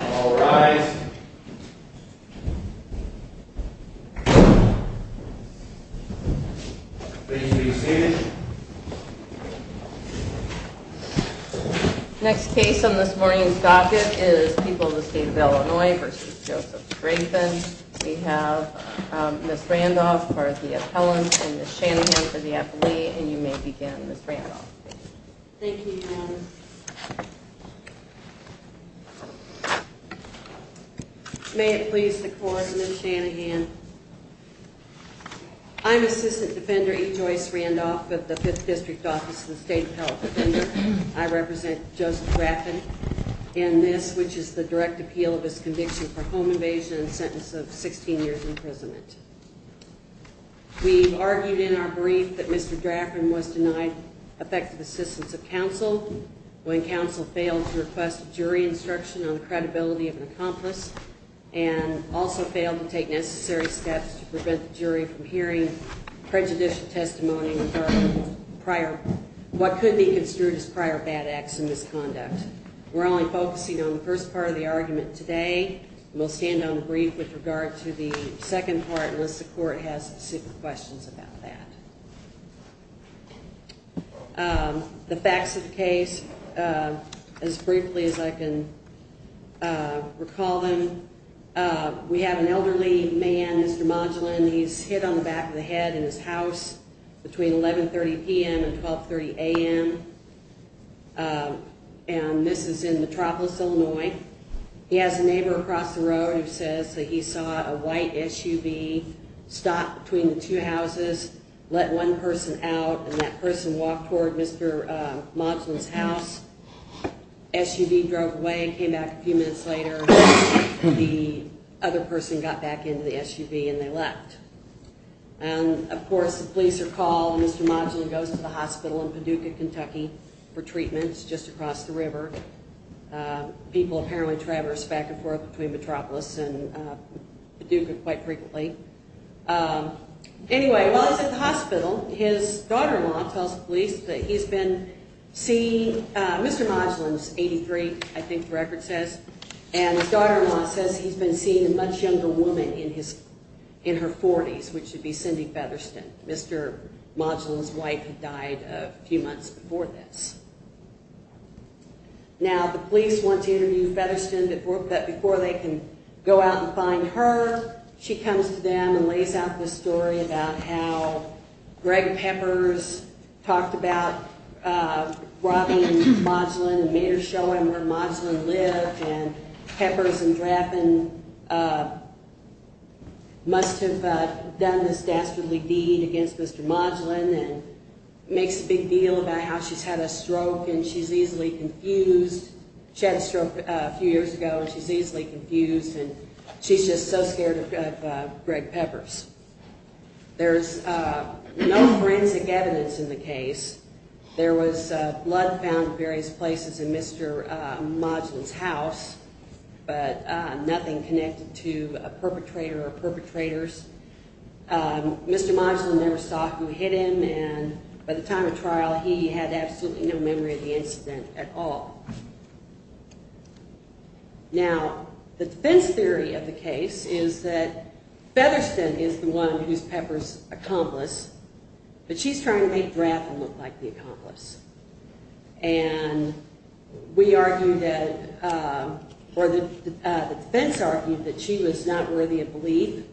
All rise. Please be seated. Next case on this morning's docket is People of the State of Illinois v. Joseph Draffen. We have Ms. Randolph for the appellant and Ms. Shanahan for the appellee. And you may begin, Ms. Randolph. Thank you, Your Honor. May it please the Court, Ms. Shanahan. I'm Assistant Defender E. Joyce Randolph of the 5th District Office of the State Appellate Defender. I represent Joseph Draffen in this, which is the direct appeal of his conviction for home invasion and sentence of 16 years imprisonment. We argued in our brief that Mr. Draffen was denied effective assistance of counsel when counsel failed to request jury instruction on credibility of an accomplice and also failed to take necessary steps to prevent the jury from hearing prejudicial testimony regarding what could be construed as prior bad acts and misconduct. We're only focusing on the first part of the argument today. We'll stand on the brief with regard to the second part unless the Court has specific questions about that. The facts of the case, as briefly as I can recall them, we have an elderly man, Mr. Modulin. He's hit on the back of the head in his house between 11.30 p.m. and 12.30 a.m. And this is in Metropolis, Illinois. He has a neighbor across the road who says that he saw a white SUV stop between the two houses, let one person out, and that person walked toward Mr. Modulin's house. SUV drove away, came back a few minutes later, and the other person got back into the SUV and they left. And, of course, the police are called, and Mr. Modulin goes to the hospital in Paducah, Kentucky, for treatments just across the river. People apparently traverse back and forth between Metropolis and Paducah quite frequently. Anyway, while he's at the hospital, his daughter-in-law tells the police that he's been seeing Mr. Modulin's 83, I think the record says, and his daughter-in-law says he's been seeing a much younger woman in her 40s, which would be Cindy Featherston. Mr. Modulin's wife had died a few months before this. Now, the police want to interview Featherston, but before they can go out and find her, she comes to them and lays out this story about how Greg Peppers talked about robbing Modulin and made her show him where Modulin lived, and Peppers and Draffin must have done this dastardly deed against Mr. Modulin, and makes a big deal about how she's had a stroke and she's easily confused. She had a stroke a few years ago and she's easily confused, and she's just so scared of Greg Peppers. There's no forensic evidence in the case. There was blood found in various places in Mr. Modulin's house, but nothing connected to a perpetrator or perpetrators. Mr. Modulin never saw who hit him, and by the time of trial, he had absolutely no memory of the incident at all. Now, the defense theory of the case is that Featherston is the one who's Peppers' accomplice, but she's trying to make Draffin look like the accomplice, and the defense argued that she was not worthy of belief,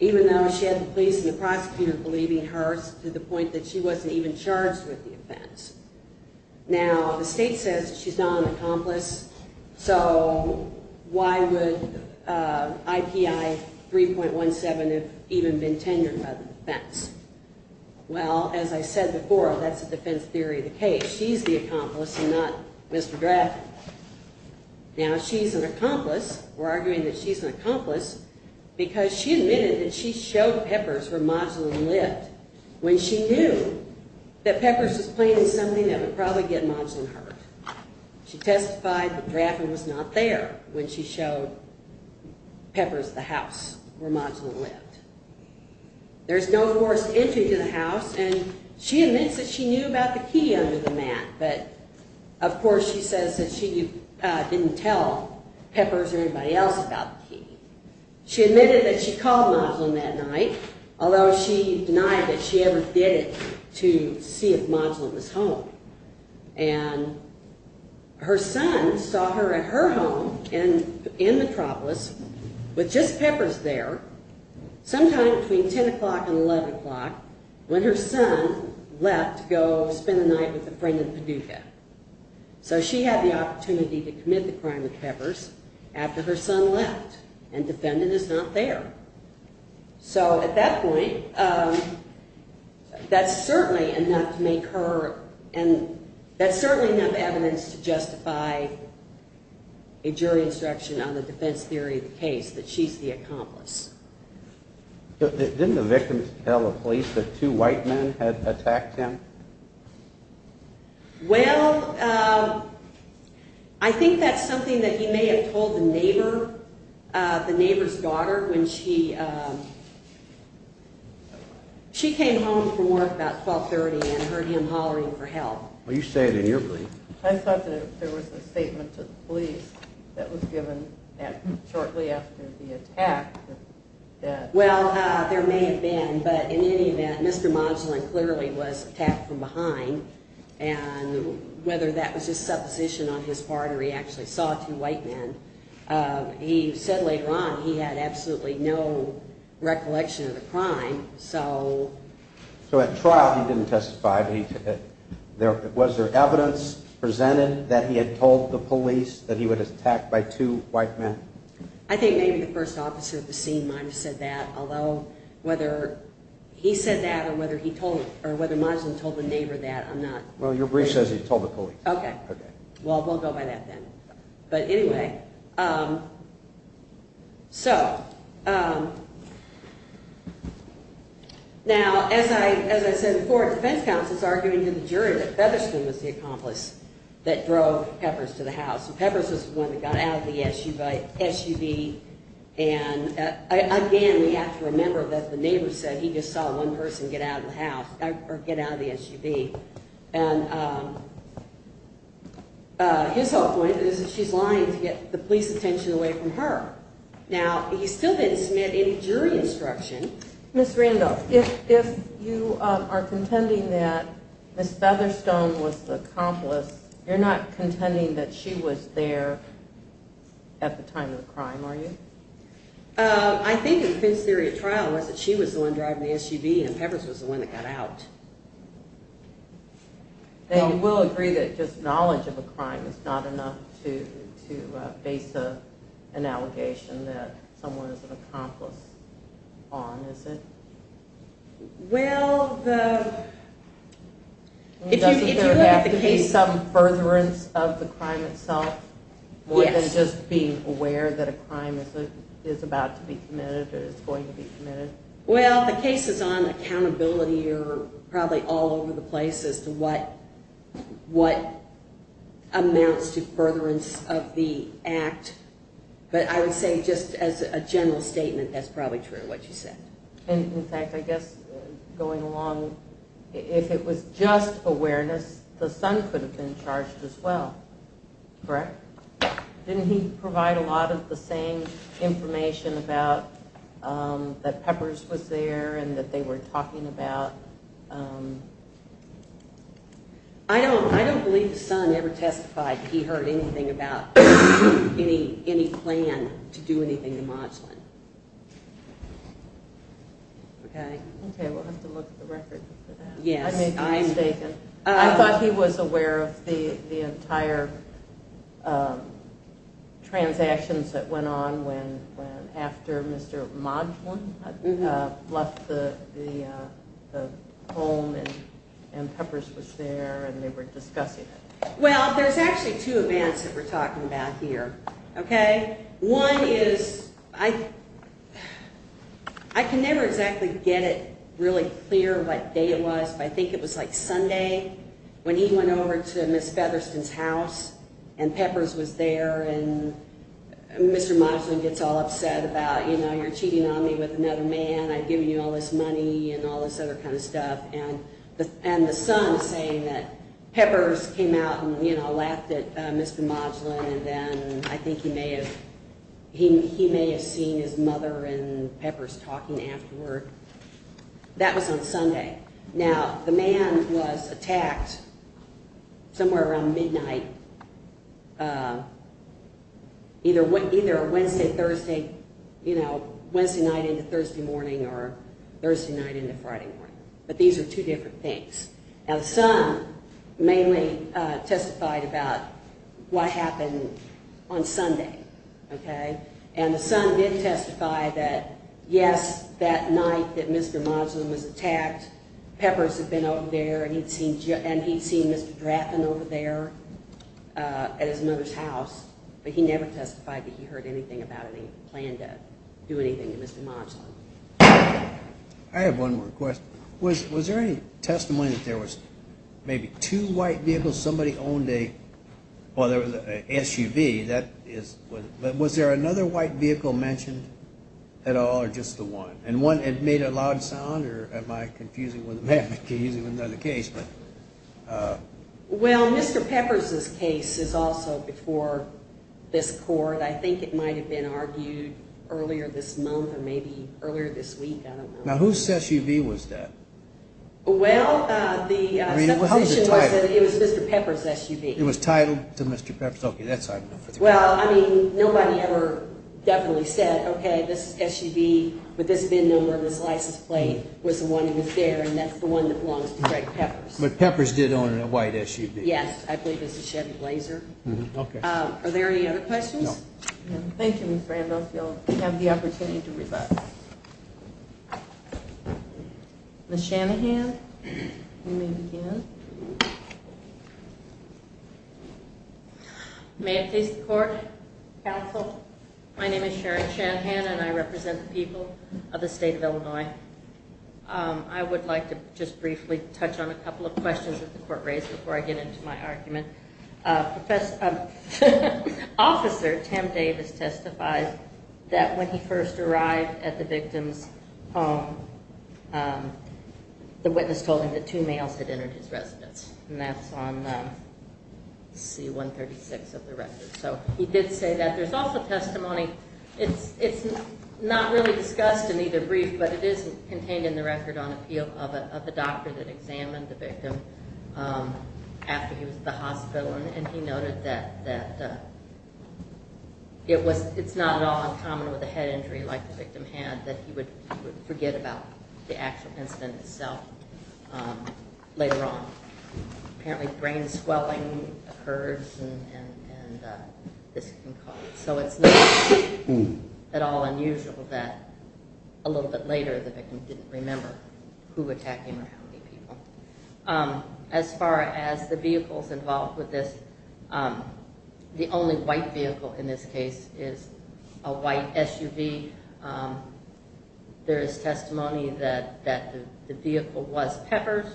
even though she had the police and the prosecutor believing her to the point that she wasn't even charged with the offense. Now, the state says she's not an accomplice, so why would IPI 3.17 have even been tenured by the defense? Well, as I said before, that's the defense theory of the case. She's the accomplice and not Mr. Draffin. Now, she's an accomplice. We're arguing that she's an accomplice because she admitted that she showed Peppers where Modulin lived when she knew that Peppers was planning something that would probably get Modulin hurt. She testified that Draffin was not there when she showed Peppers the house where Modulin lived. There's no forced entry to the house, and she admits that she knew about the key under the mat, but of course she says that she didn't tell Peppers or anybody else about the key. She admitted that she called Modulin that night, although she denied that she ever did it to see if Modulin was home. And her son saw her at her home in Metropolis with just Peppers there sometime between 10 o'clock and 11 o'clock when her son left to go spend the night with a friend in Paducah. So she had the opportunity to commit the crime with Peppers after her son left, and defendant is not there. So at that point, that's certainly enough evidence to justify a jury instruction on the defense theory of the case, that she's the accomplice. Didn't the victim tell the police that two white men had attacked him? Well, I think that's something that he may have told the neighbor, the neighbor's daughter, when she came home from work about 12.30 and heard him hollering for help. Well, you say it in your belief. I thought that there was a statement to the police that was given shortly after the attack. Well, there may have been, but in any event, Mr. Modulin clearly was attacked from behind, and whether that was just supposition on his part or he actually saw two white men, he said later on he had absolutely no recollection of the crime. So at trial, he didn't testify. Was there evidence presented that he had told the police that he was attacked by two white men? I think maybe the first officer at the scene might have said that, although whether he said that or whether Modulin told the neighbor that, I'm not sure. Well, your brief says he told the police. Okay. Okay. Well, we'll go by that then. But anyway, so now as I said before, defense counsel is arguing to the jury that Featherston was the accomplice that drove Peppers to the house. Peppers was the one that got out of the SUV. And again, we have to remember that the neighbor said he just saw one person get out of the house, or get out of the SUV. And his whole point is that she's lying to get the police's attention away from her. Now, he still didn't submit any jury instruction. Ms. Randolph, if you are contending that Ms. Featherston was the accomplice, you're not contending that she was there at the time of the crime, are you? I think the defense theory of trial was that she was the one driving the SUV, and Peppers was the one that got out. We'll agree that just knowledge of a crime is not enough to base an allegation that someone is an accomplice on, is it? Well, the case of furtherance of the crime itself, more than just being aware that a crime is about to be committed or is going to be committed? Well, the cases on accountability are probably all over the place as to what amounts to furtherance of the act. But I would say just as a general statement, that's probably true of what you said. In fact, I guess going along, if it was just awareness, the son could have been charged as well, correct? Didn't he provide a lot of the same information about that Peppers was there and that they were talking about? I don't believe the son ever testified he heard anything about any plan to do anything to Modglin. Okay, we'll have to look at the record for that. I may be mistaken. I thought he was aware of the entire transactions that went on after Mr. Modglin left the home and Peppers was there and they were discussing it. Well, there's actually two events that we're talking about here, okay? One is I can never exactly get it really clear what day it was, but I think it was like Sunday when he went over to Ms. Featherston's house and Peppers was there. And Mr. Modglin gets all upset about, you know, you're cheating on me with another man. I've given you all this money and all this other kind of stuff. And the son saying that Peppers came out and, you know, laughed at Mr. Modglin and then I think he may have seen his mother and Peppers talking afterward. That was on Sunday. Now, the man was attacked somewhere around midnight, either Wednesday, Thursday, you know, Wednesday night into Thursday morning or Thursday night into Friday morning. But these are two different things. Now, the son mainly testified about what happened on Sunday, okay? And the son did testify that, yes, that night that Mr. Modglin was attacked, Peppers had been over there and he'd seen Mr. Drafton over there at his mother's house. But he never testified that he heard anything about any plan to do anything to Mr. Modglin. I have one more question. Was there any testimony that there was maybe two white vehicles? Somebody owned a, well, there was a SUV. That is, but was there another white vehicle mentioned at all or just the one? And one had made a loud sound or am I confusing with another case? Well, Mr. Peppers' case is also before this court. I think it might have been argued earlier this month or maybe earlier this week, I don't know. Now, whose SUV was that? Well, the, it was Mr. Peppers' SUV. It was titled to Mr. Peppers? Okay, that's all I know for the record. Well, I mean, nobody ever definitely said, okay, this SUV with this VIN number and this license plate was the one that was there and that's the one that belongs to Greg Peppers. But Peppers did own a white SUV. Yes, I believe it was a Chevy Blazer. Okay. Are there any other questions? No. Thank you, Ms. Randolph. You'll have the opportunity to rebut. Ms. Shanahan, you may begin. May it please the court, counsel, my name is Sharon Shanahan and I represent the people of the state of Illinois. I would like to just briefly touch on a couple of questions that the court raised before I get into my argument. Officer Tim Davis testified that when he first arrived at the victim's home, the witness told him that two males had entered his residence. And that's on C-136 of the record. So he did say that. There's also testimony, it's not really discussed in either brief, but it is contained in the record on appeal of the doctor that examined the victim after he was at the hospital. And he noted that it's not at all uncommon with a head injury like the victim had that he would forget about the actual incident itself later on. Apparently brain swelling occurs and this can cause it. So it's not at all unusual that a little bit later the victim didn't remember who attacked him or how many people. As far as the vehicles involved with this, the only white vehicle in this case is a white SUV. There is testimony that the vehicle was Pepper's.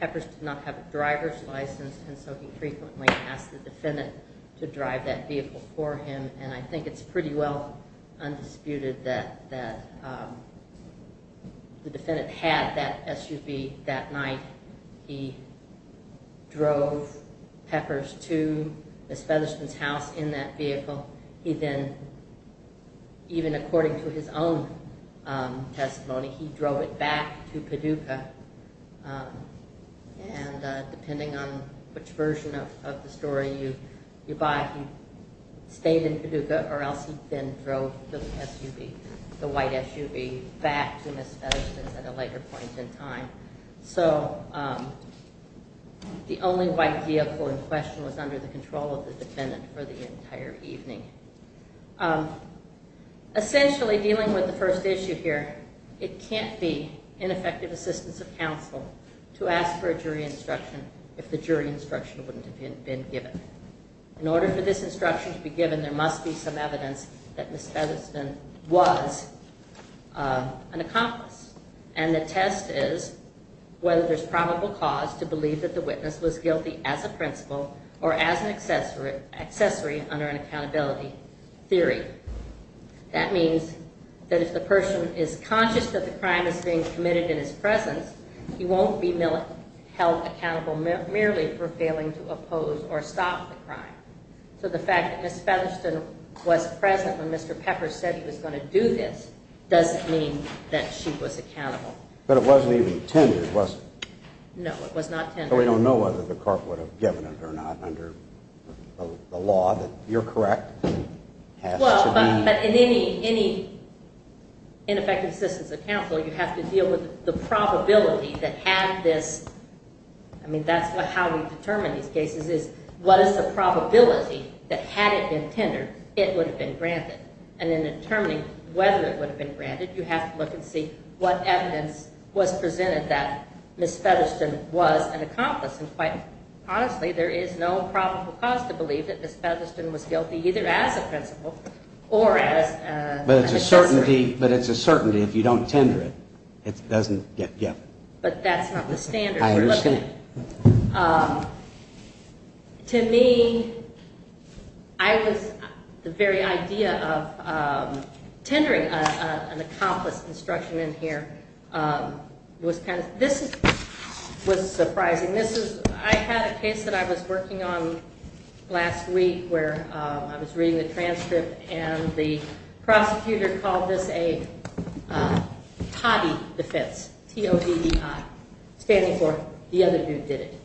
Pepper's did not have a driver's license and so he frequently asked the defendant to drive that vehicle for him. And I think it's pretty well undisputed that the defendant had that SUV that night. He drove Pepper's to Ms. Featherston's house in that vehicle. He then, even according to his own testimony, he drove it back to Paducah. And depending on which version of the story you buy, he stayed in Paducah or else he then drove the white SUV back to Ms. Featherston's at a later point in time. So the only white vehicle in question was under the control of the defendant for the entire evening. Essentially dealing with the first issue here, it can't be ineffective assistance of counsel to ask for a jury instruction if the jury instruction wouldn't have been given. In order for this instruction to be given, there must be some evidence that Ms. Featherston was an accomplice. And the test is whether there's probable cause to believe that the witness was guilty as a principal or as an accessory under an accountability theory. That means that if the person is conscious that the crime is being committed in his presence, he won't be held accountable merely for failing to oppose or stop the crime. So the fact that Ms. Featherston was present when Mr. Pepper said he was going to do this doesn't mean that she was accountable. But it wasn't even intended, was it? No, it was not intended. So we don't know whether the court would have given it or not under the law that you're correct. Well, but in any ineffective assistance of counsel, you have to deal with the probability that had this. I mean, that's how we determine these cases is what is the probability that had it been tendered, it would have been granted. And in determining whether it would have been granted, you have to look and see what evidence was presented that Ms. Featherston was an accomplice. And quite honestly, there is no probable cause to believe that Ms. Featherston was guilty either as a principal or as an accessory. But it's a certainty if you don't tender it, it doesn't get given. But that's not the standard we're looking at. I understand. To me, I was, the very idea of tendering an accomplice instruction in here was kind of, this was surprising. This is, I had a case that I was working on last week where I was reading the transcript and the prosecutor called this a TODI defense, T-O-D-E-I, standing for the other dude did it.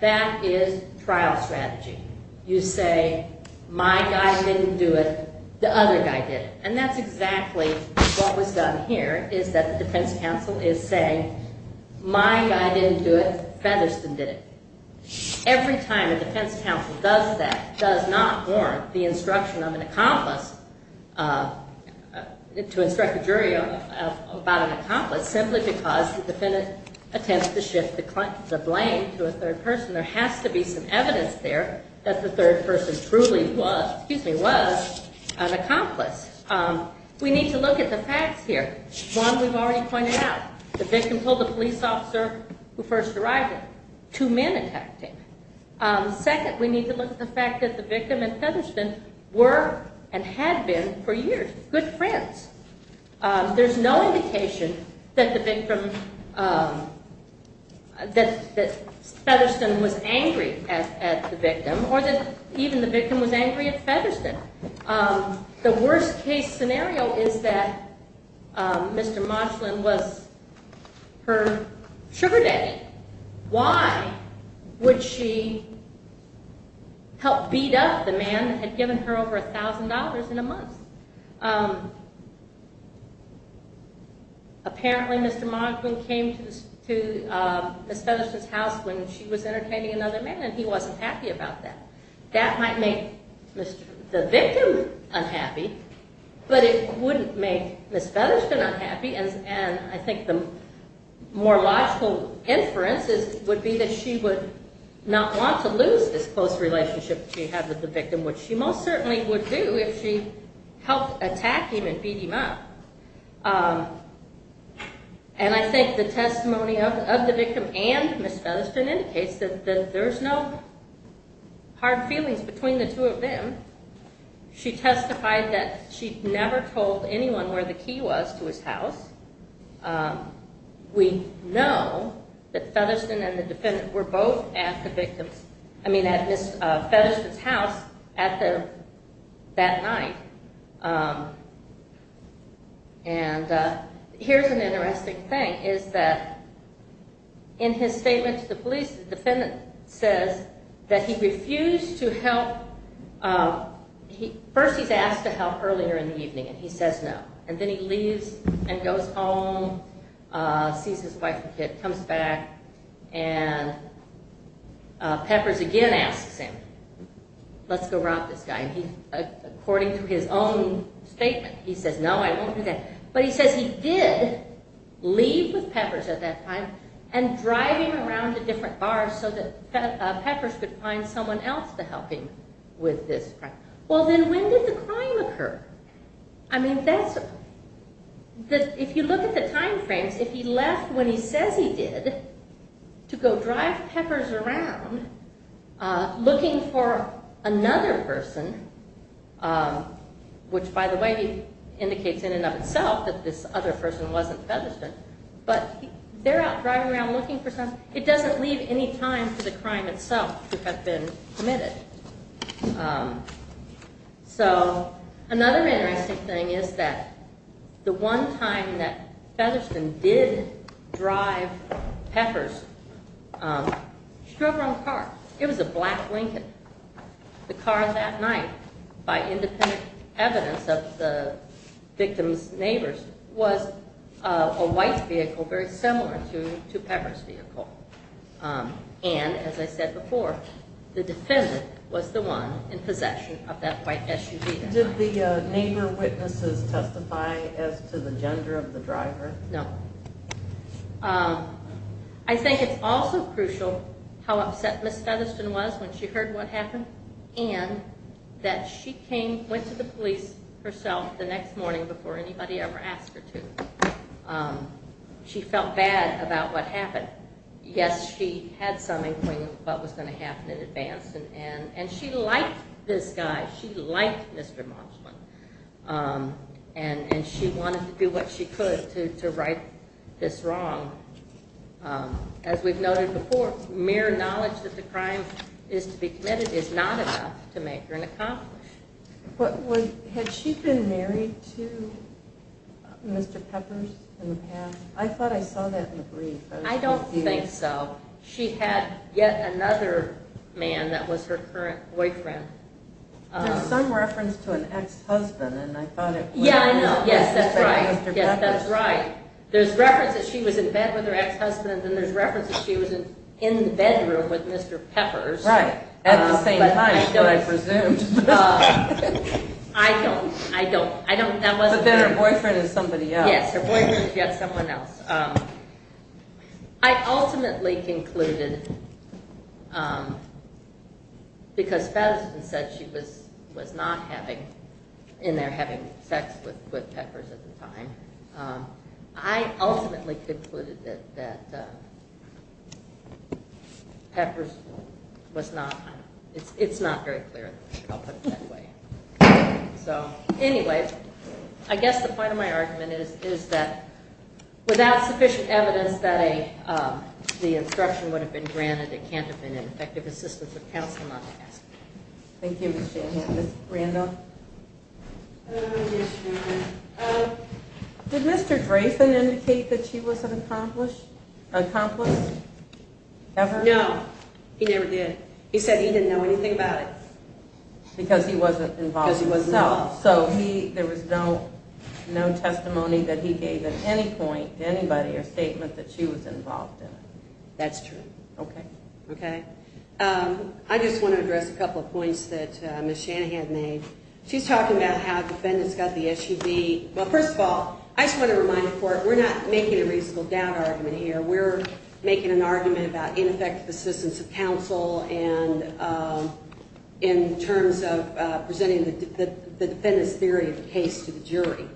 That is trial strategy. You say, my guy didn't do it, the other guy did it. And that's exactly what was done here is that the defense counsel is saying, my guy didn't do it, Featherston did it. Every time a defense counsel does that, does not warrant the instruction of an accomplice, to instruct a jury about an accomplice, simply because the defendant attempts to shift the blame to a third person, there has to be some evidence there that the third person truly was, excuse me, was an accomplice. We need to look at the facts here. One, we've already pointed out. The victim told the police officer who first arrived here. Two men attacked him. Second, we need to look at the fact that the victim and Featherston were and had been for years good friends. There's no indication that the victim, that Featherston was angry at the victim or that even the victim was angry at Featherston. The worst case scenario is that Mr. Moshlin was her sugar daddy. Why would she help beat up the man that had given her over $1,000 in a month? Apparently, Mr. Moshlin came to Ms. Featherston's house when she was entertaining another man and he wasn't happy about that. That might make the victim unhappy, but it wouldn't make Ms. Featherston unhappy, and I think the more logical inference would be that she would not want to lose this close relationship she had with the victim, which she most certainly would do if she helped attack him and beat him up. And I think the testimony of the victim and Ms. Featherston indicates that there's no hard feelings between the two of them. She testified that she never told anyone where the key was to his house. We know that Featherston and the defendant were both at Ms. Featherston's house that night. And here's an interesting thing, is that in his statement to the police, the defendant says that he refused to help. First he's asked to help earlier in the evening and he says no, and then he leaves and goes home, sees his wife and kid, comes back, and Peppers again asks him, let's go rob this guy. And according to his own statement, he says no, I won't do that. But he says he did leave with Peppers at that time and drive him around to different bars so that Peppers could find someone else to help him with this crime. Well then when did the crime occur? I mean, if you look at the time frames, if he left when he says he did to go drive Peppers around looking for another person, which by the way indicates in and of itself that this other person wasn't Featherston, but they're out driving around looking for someone, it doesn't leave any time for the crime itself to have been committed. So another interesting thing is that the one time that Featherston did drive Peppers, he drove around the park. It was a black Lincoln. The car that night, by independent evidence of the victim's neighbors, was a white vehicle very similar to Peppers' vehicle. And as I said before, the defendant was the one in possession of that white SUV that night. Did the neighbor witnesses testify as to the gender of the driver? No. I think it's also crucial how upset Ms. Featherston was when she heard what happened and that she went to the police herself the next morning before anybody ever asked her to. She felt bad about what happened. Yes, she had some inkling of what was going to happen in advance, and she liked this guy. She liked Mr. Moshman, and she wanted to do what she could to right this wrong. As we've noted before, mere knowledge that the crime is to be committed is not enough to make her an accomplice. Had she been married to Mr. Peppers in the past? I thought I saw that in the brief. I don't think so. She had yet another man that was her current boyfriend. There's some reference to an ex-husband, and I thought it was Mr. Peppers. Yes, that's right. There's reference that she was in bed with her ex-husband, and there's reference that she was in the bedroom with Mr. Peppers. Right, at the same time, but I presumed. I don't. But then her boyfriend is somebody else. Yes, her boyfriend is yet someone else. I ultimately concluded, because Featherston said she was not in there having sex with Peppers at the time, I ultimately concluded that Peppers was not, it's not very clear. I'll put it that way. So anyway, I guess the point of my argument is that without sufficient evidence that the instruction would have been granted, it can't have been an effective assistance of counsel not to ask. Thank you, Ms. Shanahan. Ms. Randall? Yes, Judy. Did Mr. Dreyfus indicate that she was an accomplice ever? No, he never did. He said he didn't know anything about it. Because he wasn't involved. Because he wasn't involved. So there was no testimony that he gave at any point to anybody or statement that she was involved in it. That's true. Okay. Okay. I just want to address a couple of points that Ms. Shanahan made. She's talking about how defendants got the SUV. Well, first of all, I just want to remind the court we're not making a reasonable doubt argument here. We're making an argument about ineffective assistance of counsel and in terms of presenting the defendant's theory of the case to the jury.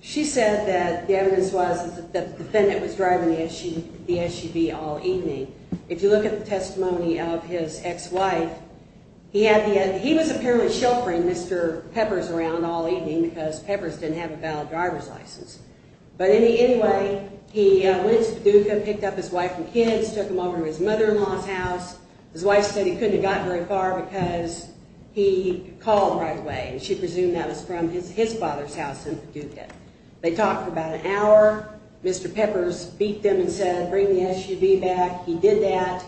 She said that the evidence was that the defendant was driving the SUV all evening. If you look at the testimony of his ex-wife, he was apparently sheltering Mr. Peppers around all evening because Peppers didn't have a valid driver's license. But anyway, he went to Paducah, picked up his wife and kids, took them over to his mother-in-law's house. His wife said he couldn't have gotten very far because he called right away and she presumed that was from his father's house in Paducah. They talked for about an hour. Mr. Peppers beat them and said, bring the SUV back. He did that.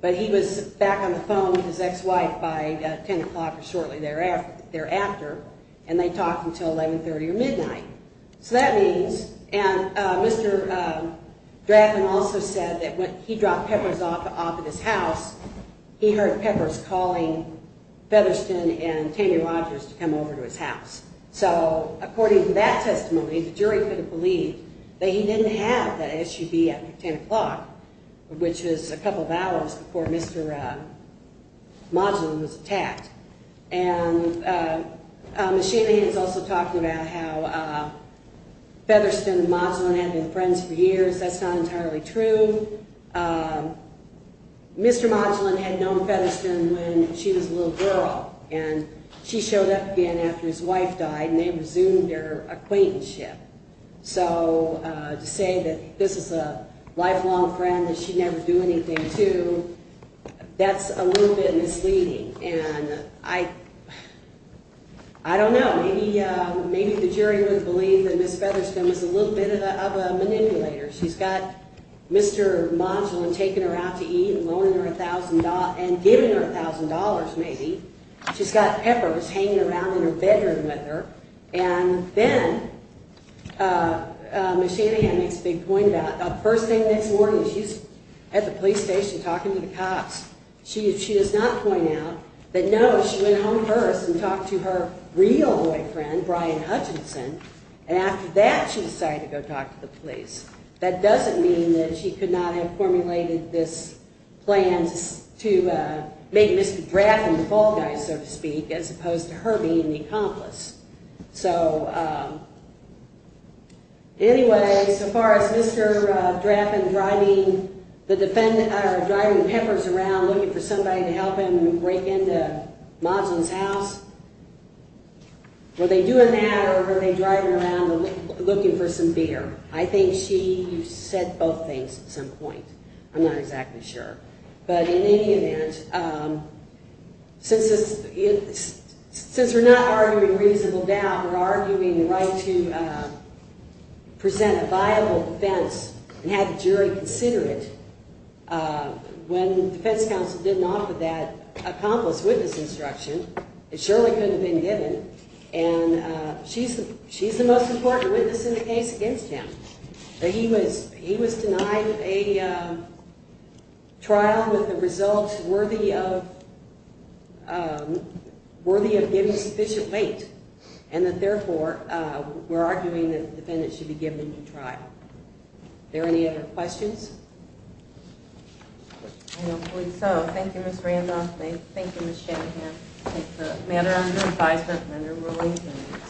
But he was back on the phone with his ex-wife by 10 o'clock or shortly thereafter, and they talked until 1130 or midnight. So that means, and Mr. Drathen also said that when he dropped Peppers off at his house, he heard Peppers calling Featherston and Tammy Rogers to come over to his house. So according to that testimony, the jury couldn't believe that he didn't have that SUV at 10 o'clock, which is a couple of hours before Mr. Modulin was attacked. And Ms. Shanahan is also talking about how Featherston and Modulin had been friends for years. That's not entirely true. Mr. Modulin had known Featherston when she was a little girl, and she showed up again after his wife died, and they resumed their acquaintanceship. So to say that this is a lifelong friend that she'd never do anything to, that's a little bit misleading. And I don't know. Maybe the jury wouldn't believe that Ms. Featherston was a little bit of a manipulator. She's got Mr. Modulin taking her out to eat and giving her $1,000 maybe. She's got Peppers hanging around in her bedroom with her. And then Ms. Shanahan makes a big point about the first thing the next morning she's at the police station talking to the cops. She does not point out that no, she went home first and talked to her real boyfriend, Brian Hutchinson, and after that she decided to go talk to the police. That doesn't mean that she could not have formulated this plan to make Mr. Drafton the fall guy, so to speak, as opposed to her being the accomplice. So anyway, so far as Mr. Drafton driving Peppers around looking for somebody to help him break into Modulin's house, were they doing that or were they driving around looking for some beer? I think she said both things at some point. I'm not exactly sure. But in any event, since we're not arguing reasonable doubt, we're arguing the right to present a viable defense and have the jury consider it. When the defense counsel didn't offer that accomplice witness instruction, it surely couldn't have been given. And she's the most important witness in the case against him. He was denied a trial with the results worthy of giving sufficient weight, and that therefore we're arguing that the defendant should be given a new trial. Are there any other questions? I don't believe so. Thank you, Ms. Randolph. Thank you, Ms. Shanahan. Thank you for the matter under advisement.